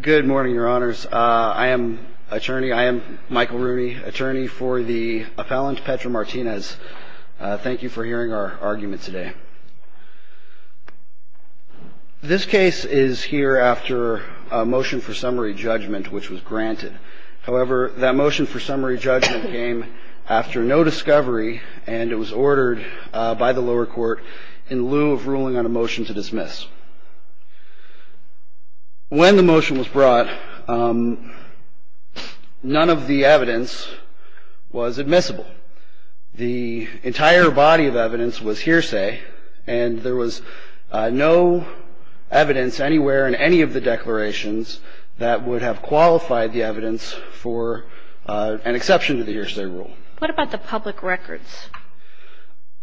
good morning your honors I am attorney I am Michael Rooney attorney for the appellant Petra Martinez thank you for hearing our argument today this case is here after a motion for summary judgment which was granted however that motion for summary judgment came after no discovery and it was ordered by the motion was brought none of the evidence was admissible the entire body of evidence was hearsay and there was no evidence anywhere in any of the declarations that would have qualified the evidence for an exception to the hearsay rule what about the public records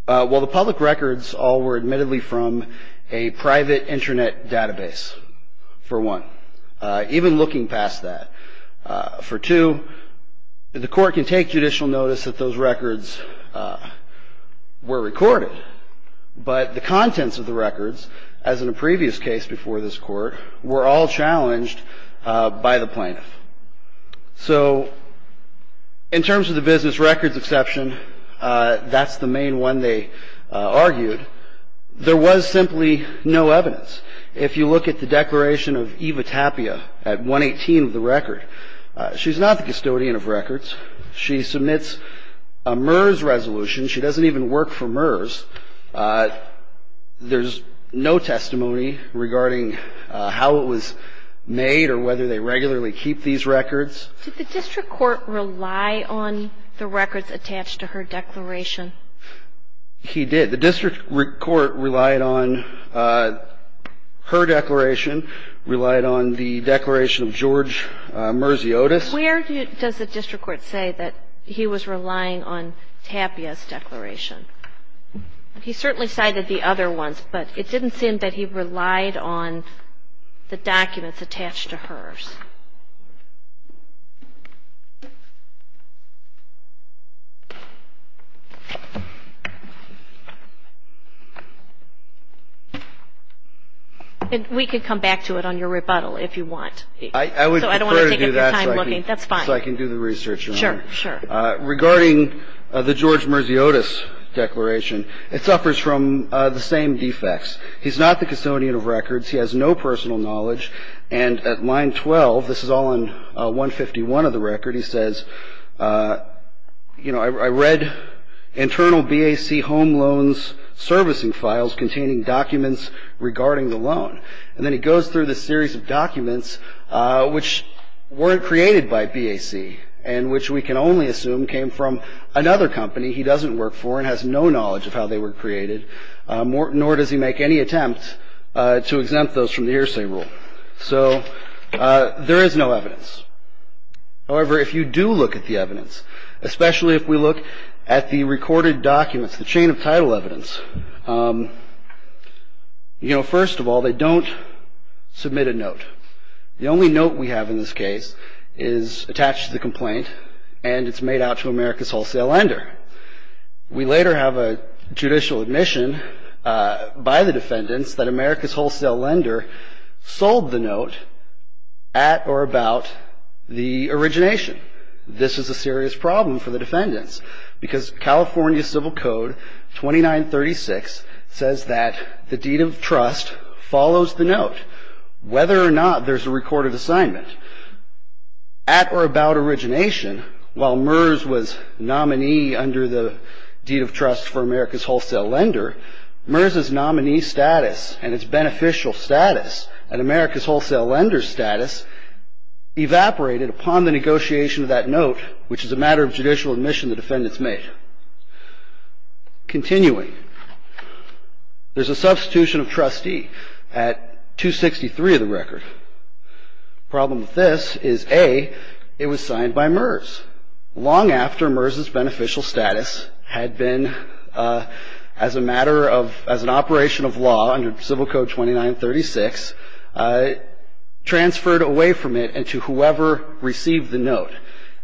well the public records all were admittedly from a private internet database for one even looking past that for two the court can take judicial notice that those records were recorded but the contents of the records as in a previous case before this court were all challenged by the plaintiff so in terms of the business records exception that's the main one they argued there was simply no evidence if you look at the declaration of Eva Tapia at 118 of the record she's not the custodian of records she submits a MERS resolution she doesn't even work for MERS there's no testimony regarding how it was made or whether they regularly keep these records did the district court rely on the records attached to her declaration he did the district court relied on her declaration relied on the declaration of George Mersey Otis where does the district court say that he was relying on Tapia's declaration he certainly cited the other ones but it didn't seem that he relied on the documents and we could come back to it on your rebuttal if you want I I would do that that's fine I can do the research sure sure regarding the George Mersey Otis declaration it suffers from the same defects he's not the custodian of records he has no personal knowledge and at line 12 this is all in 151 of the record he says you know I read internal BAC home loans servicing files containing documents regarding the loan and then he goes through the series of documents which weren't created by BAC and which we can only assume came from another company he doesn't work for and has no knowledge of how they were created Morton or does he make any attempt to exempt those from the hearsay rule so there is no evidence however if you do look at the evidence especially if we look at the recorded documents the chain of title evidence you know first of all they don't submit a note the only note we have in this case is attached to the complaint and it's made out to America's Wholesale Lender we later have a judicial admission by the defendants that America's Wholesale Lender sold the at or about the origination this is a serious problem for the defendants because California Civil Code 2936 says that the deed of trust follows the note whether or not there's a recorded assignment at or about origination while MERS was nominee under the deed of trust for America's Wholesale Lender MERS is status evaporated upon the negotiation of that note which is a matter of judicial admission the defendants made continuing there's a substitution of trustee at 263 of the record problem with this is a it was signed by MERS long after MERS beneficial status had been as a matter of as an operation of MERS transferred away from it and to whoever received the note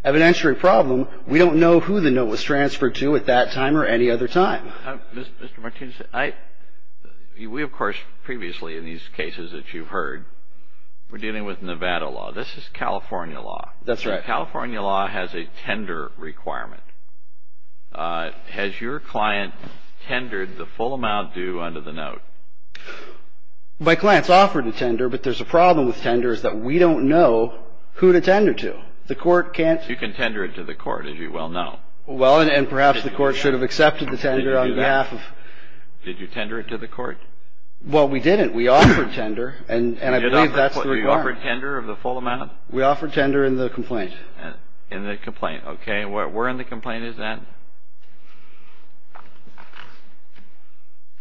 evidentiary problem we don't know who the note was transferred to at that time or any other time we of course previously in these cases that you've heard we're dealing with Nevada law this is California law that's right California law has a tender requirement has your client tendered the full amount due under the note by MERS the complaint is offered a tender but there's a problem with tenders that we don't know who to tender to the court can't you can tender it to the court as you well know well and perhaps the court should have accepted the tender on behalf of did you tender it to the court well we didn't we offered tender and and I did offer tender of the full amount we offered tender in the complaint and in the complaint okay what we're in the complaint is that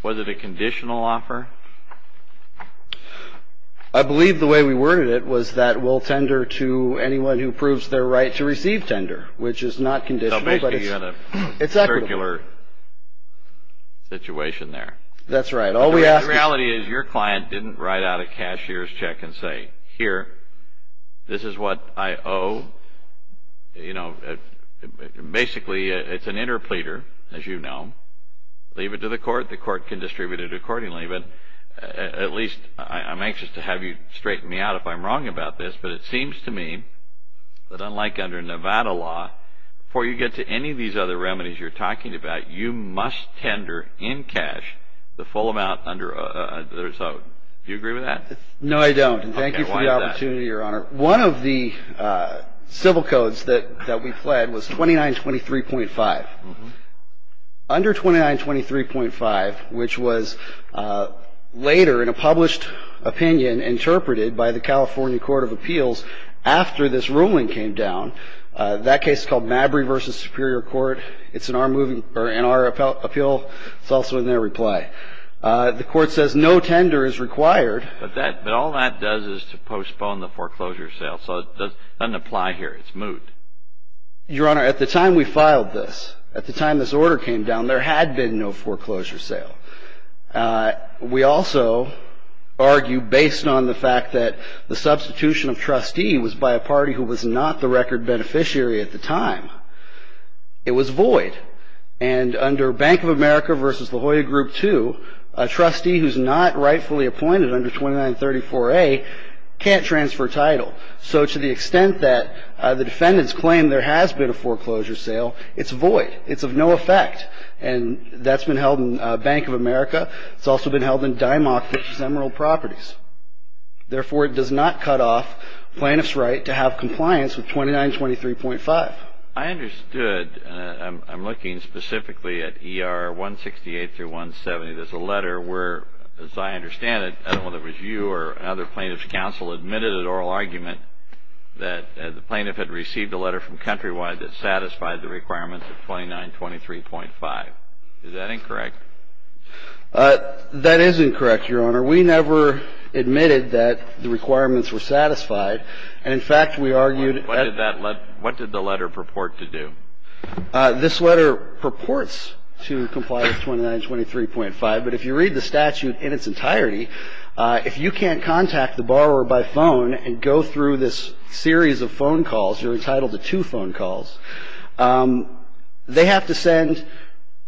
was it a conditional offer I believe the way we worded it was that we'll tender to anyone who proves their right to receive tender which is not conditional but it's a circular situation there that's right all we ask reality is your client didn't write out a cashier's check and say here this is what I owe you know basically it's an interpleader as you know leave it to the court the court can distribute it accordingly but at least I'm anxious to have you straighten me out if I'm wrong about this but it seems to me that unlike under Nevada law before you get to any of these other remedies you're talking about you must tender in cash the full amount under there so you agree with that no I don't thank you for the opportunity your honor one of the civil codes that that we fled was 29 23.5 under 29 23.5 which was later in a published opinion interpreted by the California Court of Appeals after this ruling came down that case called Mabry versus Superior Court it's an arm moving or in our appeal it's also in their reply the court says no tender is required but that but all that does is to postpone the foreclosure sale so doesn't apply here it's moot your honor at the time we filed this at the time this order came down there had been no foreclosure sale we also argue based on the fact that the substitution of trustee was by a party who was not the record beneficiary at the time it was void and under Bank of America versus La Jolla group to a trustee who's not rightfully appointed under 2934 a can't transfer title so to the extent that the defendants claim there has been a foreclosure sale it's void it's of no effect and that's been held in Bank of America it's also been held in Dimock which is Emerald Properties therefore it does not cut off plaintiffs right to have compliance with 29 23.5 I understand it whether it was you or other plaintiffs counsel admitted at oral argument that the plaintiff had received a letter from Countrywide that satisfied the requirements of 29 23.5 is that incorrect that is incorrect your honor we never admitted that the requirements were satisfied and in fact we argued what did that let what did the letter purport to do this letter purports to comply with 29 23.5 but if you read the statute in its entirety if you can't contact the borrower by phone and go through this series of phone calls you're entitled to two phone calls they have to send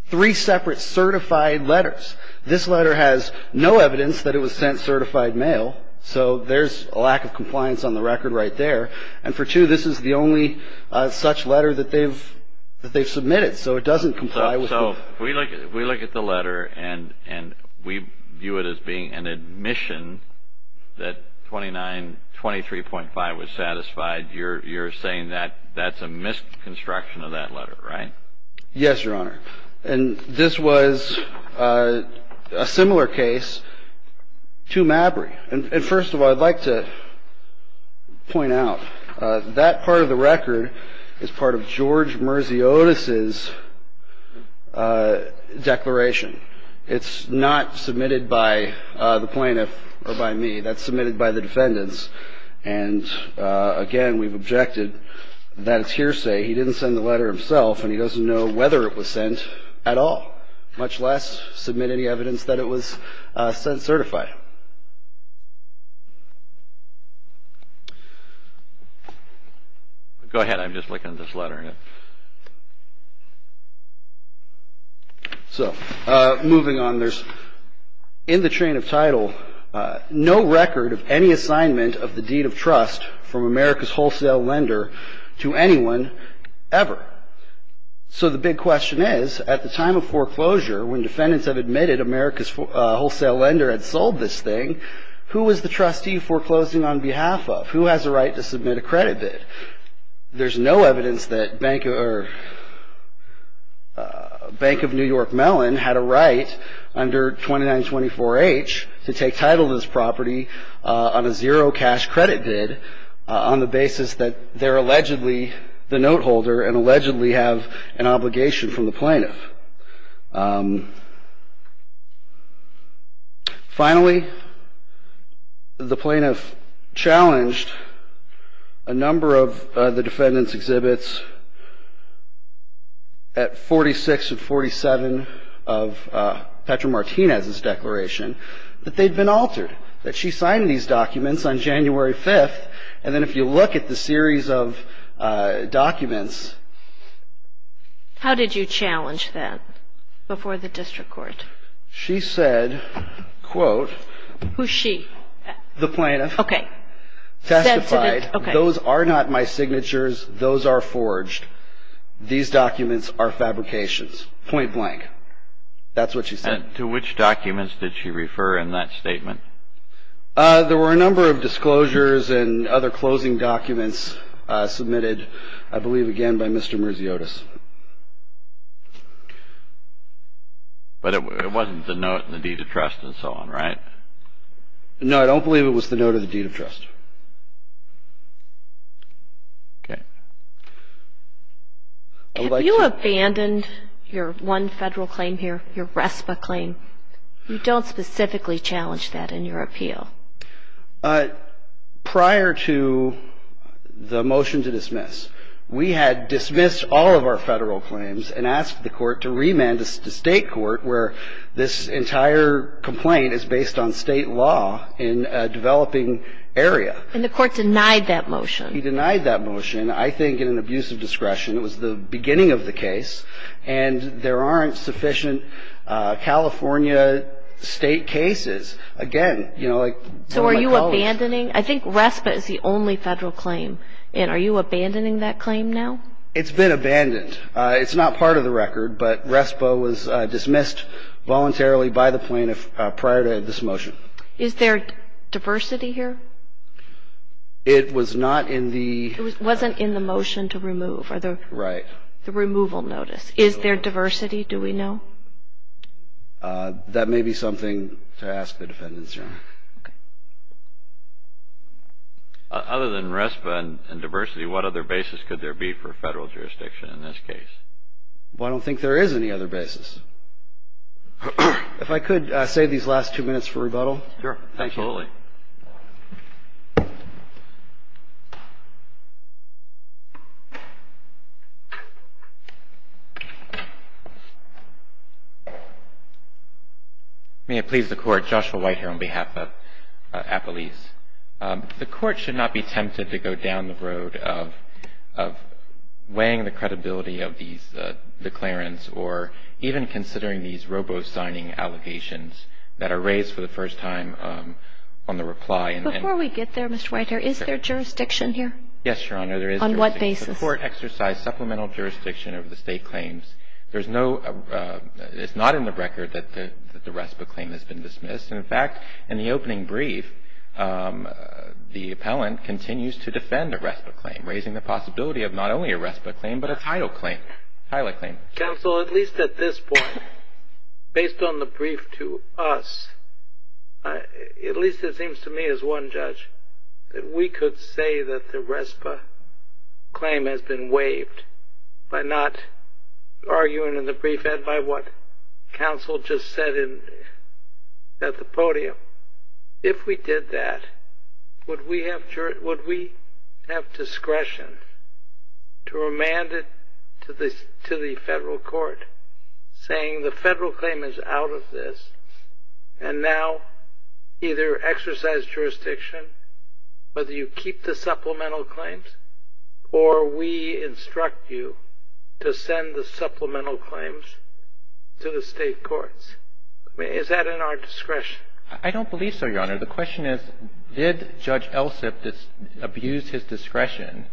three separate certified letters this letter has no evidence that it was sent certified mail so there's a lack of compliance on the record right there and for two this is the only such letter that they've that they've submitted so it doesn't comply with so we look we look at the letter and and we view it as being an admission that 29 23.5 was satisfied you're you're saying that that's a misconstruction of that letter right yes your honor and this was a similar case to Mabry and first of all I'd like to point out that part of the record is part of George Mersey Otis's declaration it's not submitted by the plaintiff or by me that's submitted by the defendants and again we've objected that it's hearsay he didn't send the letter himself and he doesn't know whether it was sent at all much less submit any evidence that it was sent certified go ahead I'm just looking at this letter so moving on there's in the chain of title no record of any assignment of the deed of trust from America's wholesale lender to anyone ever so the big question is at the time of foreclosure when defendants have admitted America's wholesale lender had sold this thing who was the trustee foreclosing on behalf of who has a right to submit a credit bid there's no evidence that bank or Bank of New York melon had a right under 2924 H to take title this property on a zero cash credit bid on the basis that they're allegedly the note holder and allegedly have an obligation from the plaintiff finally the plaintiff challenged a number of the defendants exhibits at 46 and 47 of Petra Martinez's declaration that they'd been altered that she signed these documents on January 5th and then if you look at the series of documents how did you challenge that before the district court she said quote who she the plaintiff okay testified those are not my signatures those are forged these documents are fabrications point-blank that's what she said to which documents did she refer in that statement there were a number of disclosures and other closing documents submitted I believe again by Mr. Murziotis but it wasn't the note in the deed of trust and so on right no I don't believe it was the note of the deed of trust you abandoned your one federal claim here your respite claim you don't specifically challenge that in your appeal prior to the motion to dismiss we had dismissed all of our federal claims and asked the court to remand us to state court where this entire complaint is based on state law in a developing area and the court denied that motion he denied that motion I think in an abuse of discretion it was the beginning of the case and there aren't sufficient California state cases again you know so are you abandoning I think respite is the only federal claim and are you abandoning that claim now it's been abandoned it's not part of the record but respo was dismissed voluntarily by the plaintiff prior to this motion is there diversity here it was not in the it wasn't in the motion to remove are there right the removal notice is there diversity do we know that may be something to ask the defendants are other than respite and diversity what other basis could there be for federal jurisdiction in this case I don't think there is any other basis if I could say these last two minutes for rebuttal may I please the court joshua white here on behalf of appellees the court should not be tempted to go down the road of weighing the credibility of these declarants or even considering these robo signing allegations that are raised for the first time on the reply before we get there Mr. writer is there jurisdiction here yes your honor there is on what basis the court exercise supplemental jurisdiction of the state claims there's no it's not in the record that the respite claim has been dismissed in fact in the opening brief the appellant continues to defend a respite claim raising the possibility of not only a respite claim but a title claim highly counsel at least at this point based on the brief to us at least it seems to me as one judge that we could say that the respite claim has been waived by not arguing in the brief and by what counsel just said in that the podium if we did that would we have discretion to remand it to the to the federal court saying the federal claim is out of this and now either exercise jurisdiction whether you keep the supplemental claims or we instruct you to send the supplemental claims to the state courts is that in our discretion I don't believe so your honor the question is did judge else if this abuse his discretion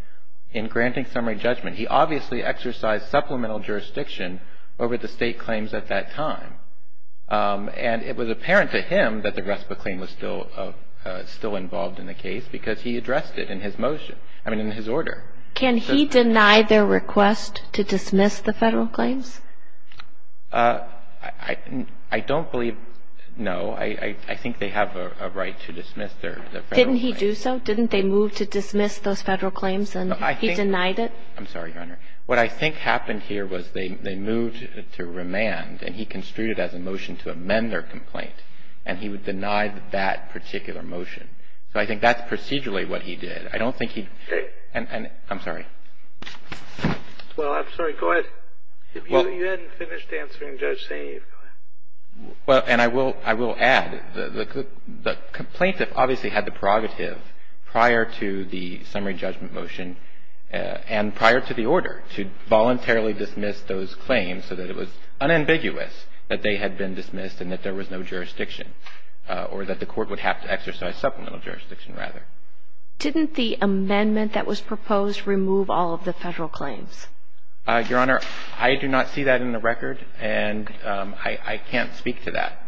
in granting summary judgment he obviously exercised supplemental jurisdiction over the state claims at that time and it was apparent to him that the respite claim was still still involved in the case because he addressed it in his motion I mean in his order can he deny their request to dismiss the federal claims I I don't believe no I I think they have a right to dismiss their didn't he do so didn't they move to dismiss those federal claims and I think denied it I'm sorry your honor what I think happened here was they moved to remand and he construed as a motion to amend their complaint and he would deny that particular motion so I think that's procedurally what he did I don't think he and I'm sorry well and I will I will add the complaint that obviously had the prerogative prior to the summary judgment motion and prior to the order to voluntarily dismiss those claims so that it was unambiguous that they had been dismissed and that there was no jurisdiction or that the court would have to exercise supplemental jurisdiction rather didn't the amendment that was proposed remove all of the federal claims your honor I do not see that in the record and I can't speak to that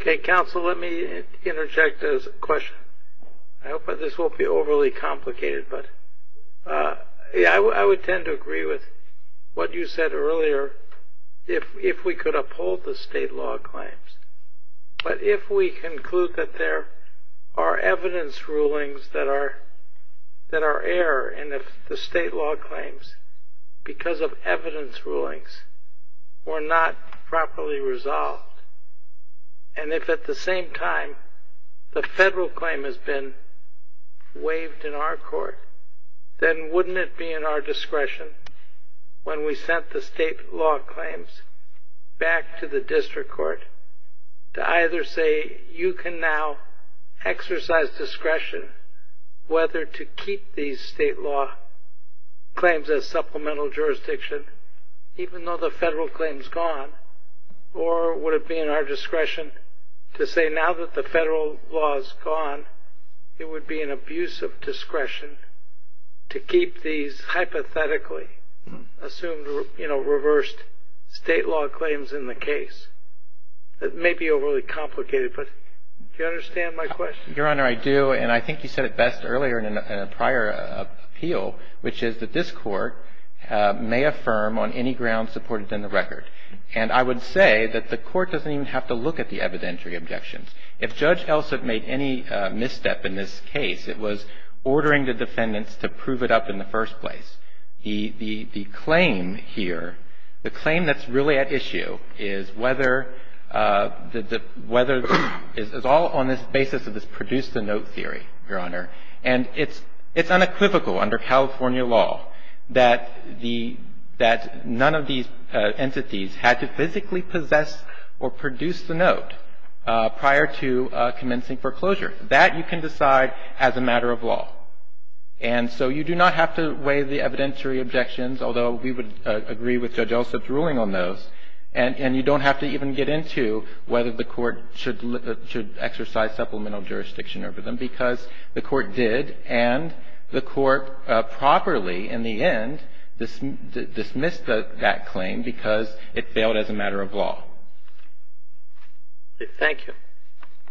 okay counsel let me interject as a question I hope this won't be overly complicated but yeah I would tend to agree with what you said earlier if we could uphold the state law claims but if we conclude that there are evidence rulings that are that are error and if the state law claims because of evidence rulings were not properly resolved and if at the same time the federal claim has been waived in our court then wouldn't it be in our discretion when we sent the state law claims back to the you can now exercise discretion whether to keep these state law claims as supplemental jurisdiction even though the federal claims gone or would it be in our discretion to say now that the federal laws gone it would be an abuse of discretion to keep these hypothetically assumed you know reversed state law claims in the case that may be overly complicated but you understand my question your honor I do and I think you said it best earlier in a prior appeal which is that this court may affirm on any ground supported in the record and I would say that the court doesn't even have to look at the evidentiary objections if judge Elson made any misstep in this case it was ordering the defendants to prove it up in the first place he the claim here the claim that's really at issue is whether the weather is all on this basis of this produce the note theory your honor and it's it's unequivocal under California law that the that none of these entities had to physically possess or produce the note prior to commencing foreclosure that you can decide as a matter of law and so you do not have to weigh the evidentiary objections although we would agree with judge Elson's ruling on those and and you don't have to even get into whether the court should exercise supplemental jurisdiction over them because the court did and the court properly in the end this dismissed that claim because it failed as a matter of law thank you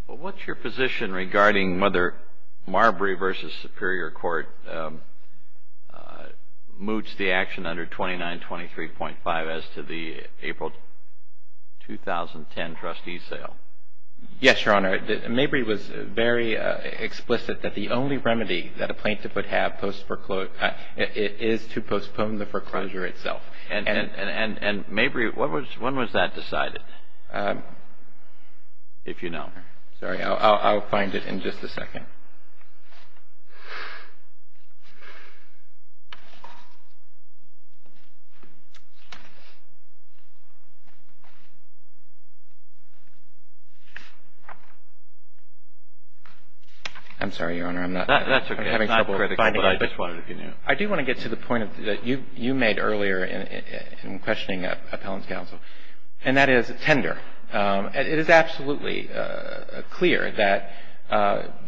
what's your position regarding whether Marbury vs. Superior Court moots the action under 29 23.5 as to the April 2010 trustee sale yes your honor maybe was very explicit that the only remedy that a plaintiff would have post for quote it is to postpone the foreclosure itself and and and maybe what was when was that decided if you know sorry I'll find it in just a second I'm sorry your honor I'm not that's okay having trouble finding I just wanted if you knew I do want to get to the point that you you made earlier in questioning appellant's counsel and that is a tender it is absolutely clear that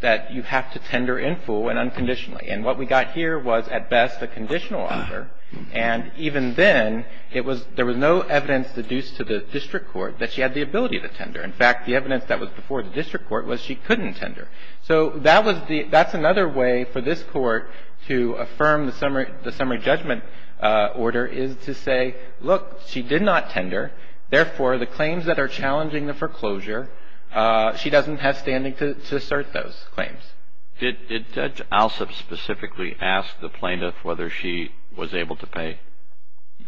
that you have to tender in full and unconditionally and what we got here was at best a conditional honor and even then it was there was no evidence deduced to the district court that she had the ability to tender in fact the evidence that was before the district court was she couldn't tender so that was the that's another way for this court to affirm the summary the summary judgment order is to say look she did not tender therefore the claims that are challenging the foreclosure she doesn't have standing to assert those claims did did judge Alsop specifically ask the plaintiff whether she was able to pay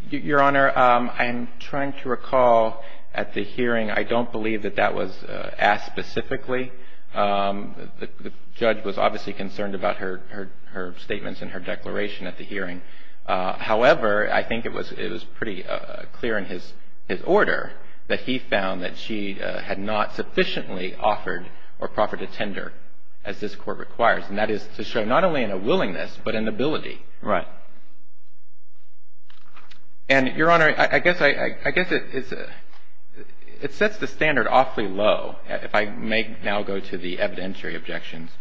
your honor I'm trying to recall at the hearing I don't believe that that was asked specifically the judge was obviously concerned about her her statements in her declaration at the hearing however I think it was it was pretty clear in his his order that he found that she had not sufficiently offered or proffered a tender as this court requires and that is to show not only in a willingness but an ability right and your honor I guess I I guess it's a it sets the standard awfully low if I make now go to the evidentiary objections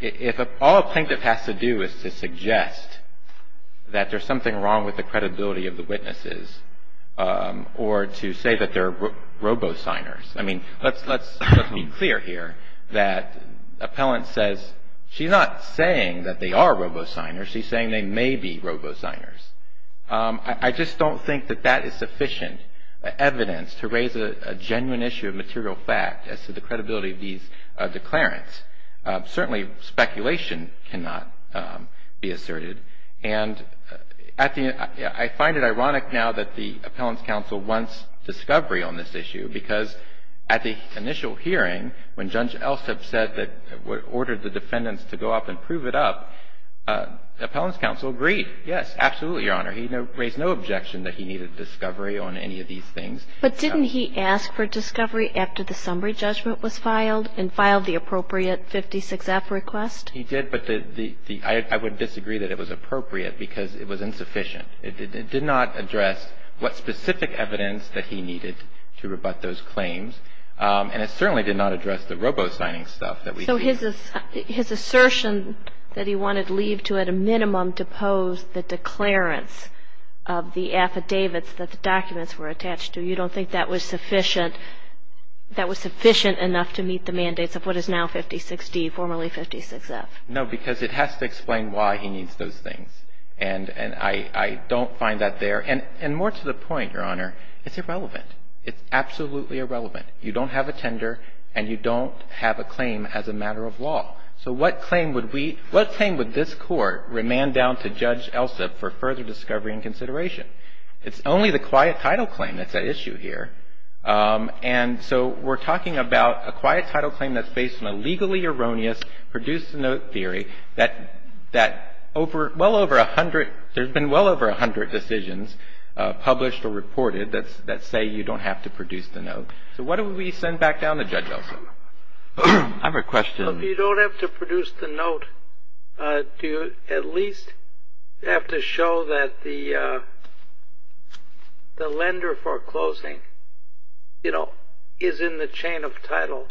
if all a plaintiff has to do is to suggest that there's something wrong with the credibility of the witnesses or to say that they're robo signers I mean let's let's be clear here that appellant says she's not saying that they are robo signers she's saying they may be robo signers I just don't think that that is sufficient evidence to raise a genuine issue of material fact as to the credibility of these declarants certainly speculation cannot be asserted and at the I find it ironic now that the appellants counsel wants discovery on this issue because at the initial hearing when judge Elstead said that what ordered the defendants to go up and prove it up the appellants counsel agreed yes absolutely your honor he raised no objection that he needed discovery on any of these things but didn't he ask for discovery after the summary judgment was filed and filed the appropriate 56 F request he did but the the I would disagree that it was appropriate because it was insufficient it did not address what specific evidence that he needed to rebut those claims and it certainly did not address the robo signing stuff that we know his is his assertion that he wanted leave to at a minimum to pose the declarants of the affidavits that the documents were that was sufficient that was sufficient enough to meet the mandates of what is now 50 60 formerly 56 F no because it has to explain why he needs those things and and I I don't find that there and and more to the point your honor it's irrelevant it's absolutely irrelevant you don't have a tender and you don't have a claim as a matter of law so what claim would we what claim would this court remand down to judge Elsa for further discovery and consideration it's only the and so we're talking about a quiet title claim that's based on a legally erroneous produce the note theory that that over well over a hundred there's been well over a hundred decisions published or reported that's that say you don't have to produce the note so what do we send back down the judge Elsa I have a question you don't have to produce the note do you at least have to show that the the lender foreclosing you know is in the chain of title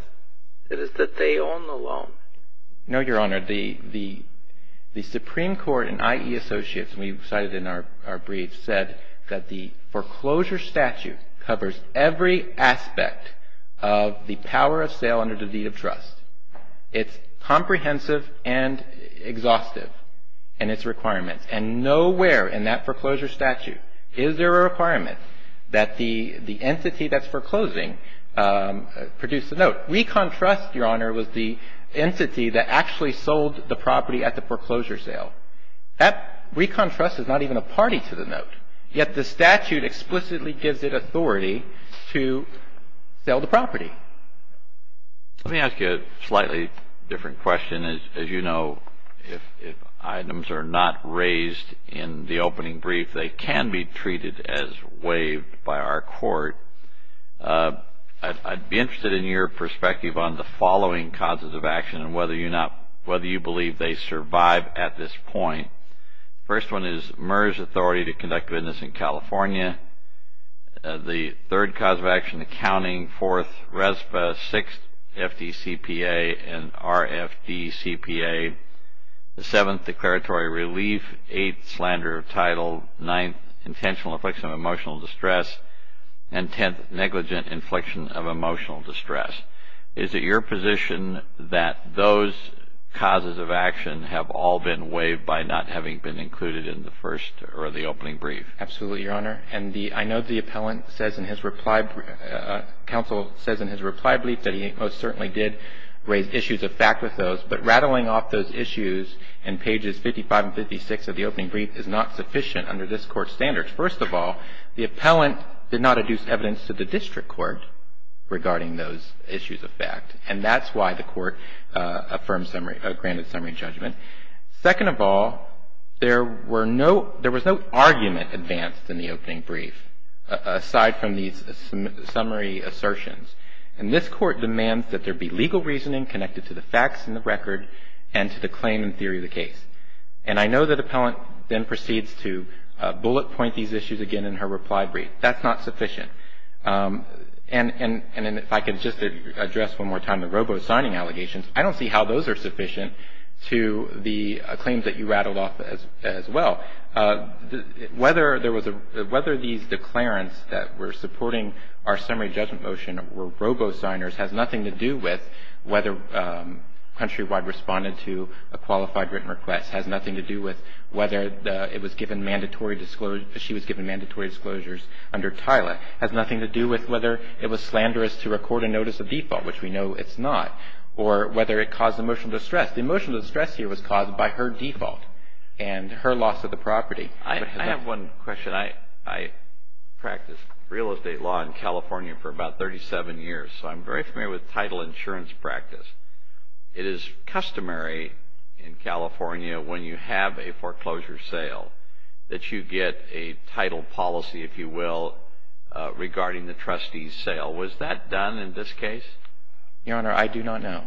it is that they own the loan no your honor the the the Supreme Court and IE associates we cited in our brief said that the foreclosure statute covers every aspect of the power of sale under the deed of trust it's comprehensive and exhaustive and it's requirements and nowhere in that foreclosure statute is there a requirement that the the entity that's foreclosing produce the note we contrast your honor was the entity that actually sold the property at the foreclosure sale that we contrast is not even a party to the note yet the statute explicitly gives it authority to sell the property let me ask you a slightly different question is as you know if items are not raised in the opening brief they can be treated as waived by our court I'd be interested in your perspective on the following causes of action and whether you're not whether you believe they survive at this point first one is MERS authority to conduct business in California the third cause of action accounting fourth RESPA sixth FDCPA and RFD CPA the seventh declaratory relief eighth slander of title ninth intentional affliction of emotional distress and tenth negligent inflection of emotional distress is it your position that those causes of action have all been waived by not having been included in the first or the opening brief absolutely your honor and the I know the appellant says in his reply council says in his reply brief that he most certainly did raise issues of fact with those but rattling off those issues and pages 55 and 56 of the opening brief is not sufficient under this court standards first of all the appellant did not adduce evidence to the district court regarding those issues of fact and that's why the court affirmed summary granted summary judgment second of all there were no there was no argument advanced in the opening brief aside from these summary assertions and this court demands that there be legal reasoning connected to the facts in the record and to the claim in theory of the case and I know that appellant then proceeds to bullet point these issues again in her reply brief that's not sufficient and and and if I can just address one more time the robo signing allegations I don't see how those are sufficient to the claims that you rattled off as well whether there was a whether these declarants that were supporting our summary judgment motion were robo signers has nothing to do with whether countrywide responded to a qualified written request has nothing to do with whether it was given mandatory disclosure she was given mandatory disclosures under Tyler has nothing to do with whether it was slanderous to record a notice of default which we know it's not or whether it caused emotional distress the emotional distress here was caused by her default and her loss of the property I have one question I I practice real estate law in California for about 37 years so I'm very familiar with title insurance practice it is customary in California when you have a foreclosure sale that you get a title policy if you will regarding the trustee sale was that done in this case your honor I do not know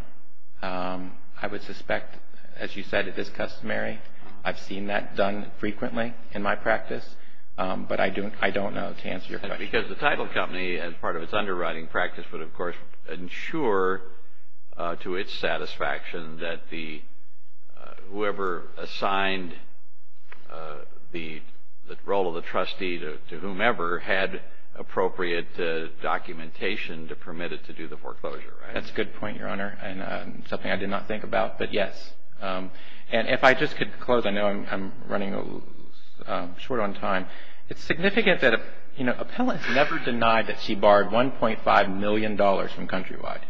I would suspect as you said it is customary I've seen that done frequently in my practice but I do I don't know to answer your question because the title company as part of its underwriting practice would of course ensure to its satisfaction that the whoever assigned the role of the trustee to whomever had appropriate documentation to permit it to do the foreclosure that's a good point your honor and something I did not think about but yes and if I just could close I know I'm running a little short on time it's significant that a you know appellant's never denied that she borrowed 1.5 million dollars from Countrywide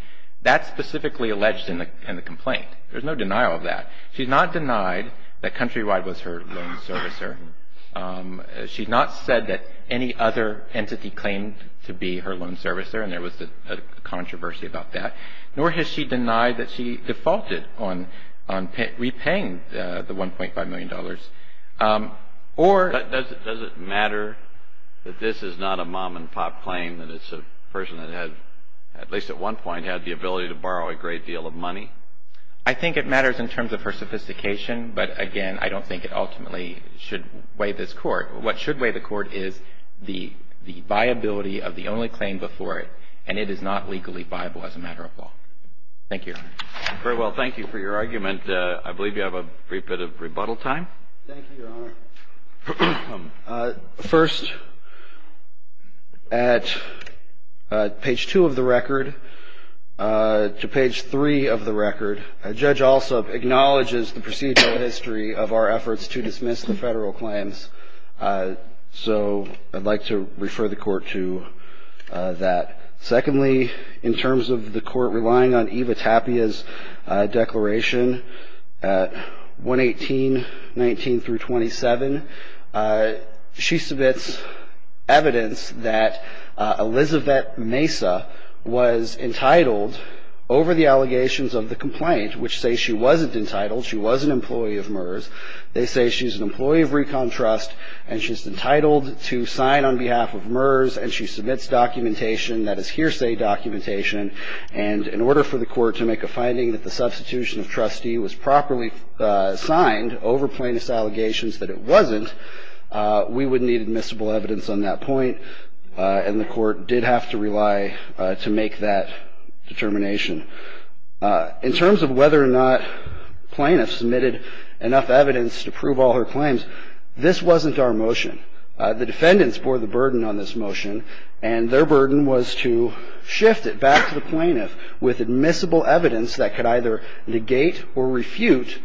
that's specifically alleged in the in the complaint there's no denial of that she's not denied that Countrywide was her loan servicer she's not said that any other entity claimed to be her loan servicer and there was a controversy about that nor has she denied that she defaulted on on repaying the 1.5 million dollars or does it matter that this is not a mom-and-pop claim that it's a person that had at least at one point had the ability to borrow a great deal of money I think it matters in terms of her sophistication but again I don't think it ultimately should weigh this court what should weigh the court is the the viability of the only claim before it and it is not legally viable as a matter of law thank you very well thank you for your bit of rebuttal time first at page 2 of the record to page 3 of the record a judge also acknowledges the procedural history of our efforts to dismiss the federal claims so I'd like to refer the court to that secondly in terms of the 118 19 through 27 she submits evidence that Elizabeth Mesa was entitled over the allegations of the complaint which say she wasn't entitled she was an employee of MERS they say she's an employee of Recon Trust and she's entitled to sign on behalf of MERS and she submits documentation that is hearsay documentation and in order for the court to make a finding that the plaintiff had signed over plaintiff's allegations that it wasn't we would need admissible evidence on that point and the court did have to rely to make that determination in terms of whether or not plaintiff submitted enough evidence to prove all her claims this wasn't our motion the defendants bore the burden on this motion and their burden was to shift it back to the plaintiff with either negate or refute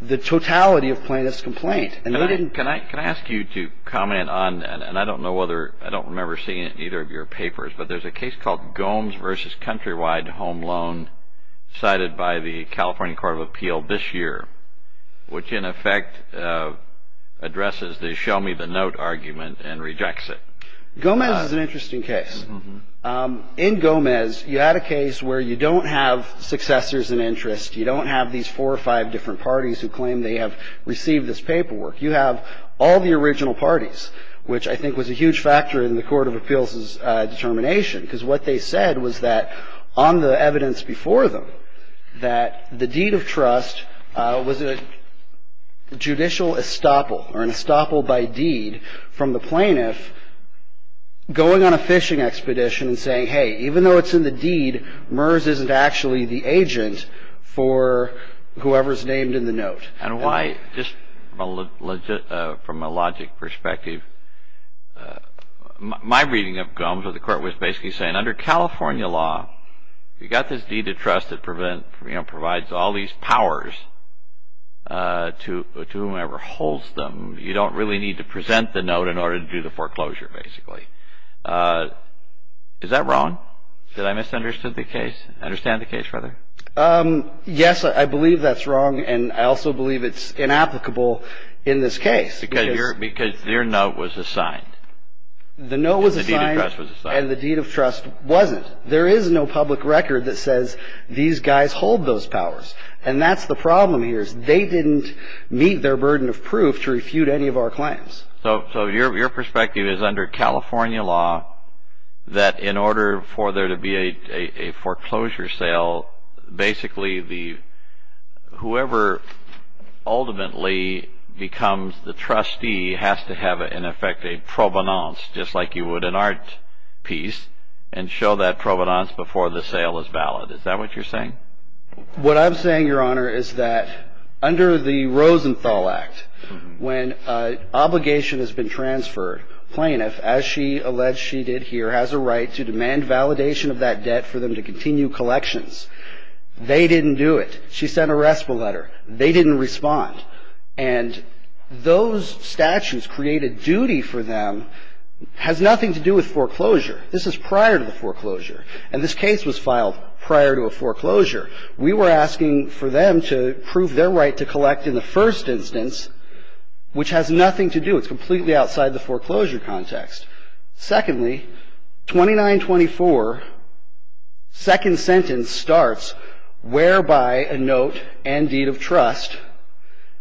the totality of plaintiff's complaint and they didn't can I can I ask you to comment on and I don't know whether I don't remember seeing it in either of your papers but there's a case called Gomes versus countrywide home loan cited by the California Court of Appeal this year which in effect addresses the show me the note argument and rejects it Gomez is an interesting case in Gomez you had a case where you don't have successors in interest you don't have these four or five different parties who claim they have received this paperwork you have all the original parties which I think was a huge factor in the Court of Appeals is determination because what they said was that on the evidence before them that the deed of trust was a judicial estoppel or an estoppel by deed from the plaintiff going on a fishing expedition saying hey even though it's in the deed MERS isn't actually the decision for whoever's named in the note and why just a legit from a logic perspective my reading of Gomes or the court was basically saying under California law you got this deed of trust that prevent you know provides all these powers to to whomever holds them you don't really need to present the note in order to do the foreclosure basically is that wrong did I misunderstood the case understand the case brother yes I believe that's wrong and I also believe it's inapplicable in this case because you're because their note was assigned the note was assigned and the deed of trust wasn't there is no public record that says these guys hold those powers and that's the problem here's they didn't meet their burden of proof to refute any of our claims so so your perspective is under California law that in order for there to be a foreclosure sale basically the whoever ultimately becomes the trustee has to have it in effect a provenance just like you would an art piece and show that provenance before the sale is valid is that what you're saying what I'm saying your honor is that under the Rosenthal Act when obligation has been transferred plaintiff as she alleged she did here has a right to demand validation of that debt for them to continue collections they didn't do it she sent a restful letter they didn't respond and those statues created duty for them has nothing to do with foreclosure this is prior to the foreclosure and this case was filed prior to a foreclosure we were asking for them to prove their right to collect in the first instance which has nothing to do it's completely outside the foreclosure context secondly 2924 second sentence starts whereby a note and deed of trust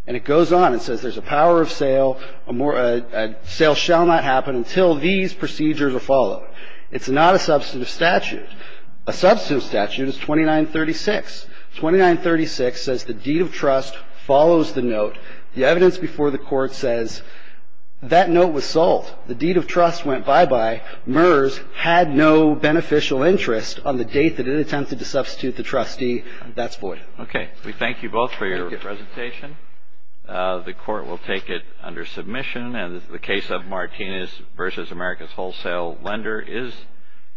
and it goes on and says there's a power of sale a more a sale shall not happen until these procedures are followed it's not a substantive statute a substantive statute is 2936 2936 says the deed of trust follows the note the evidence before the court says that note was sold the deed of trust went bye-bye MERS had no beneficial interest on the date that it attempted to substitute the trustee that's void okay we thank you both for your presentation the court will take it under submission and the case of Martinez versus America's Wholesale Lender is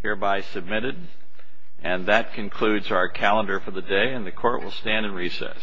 hereby submitted and that concludes our calendar for the day and the court will stand in recess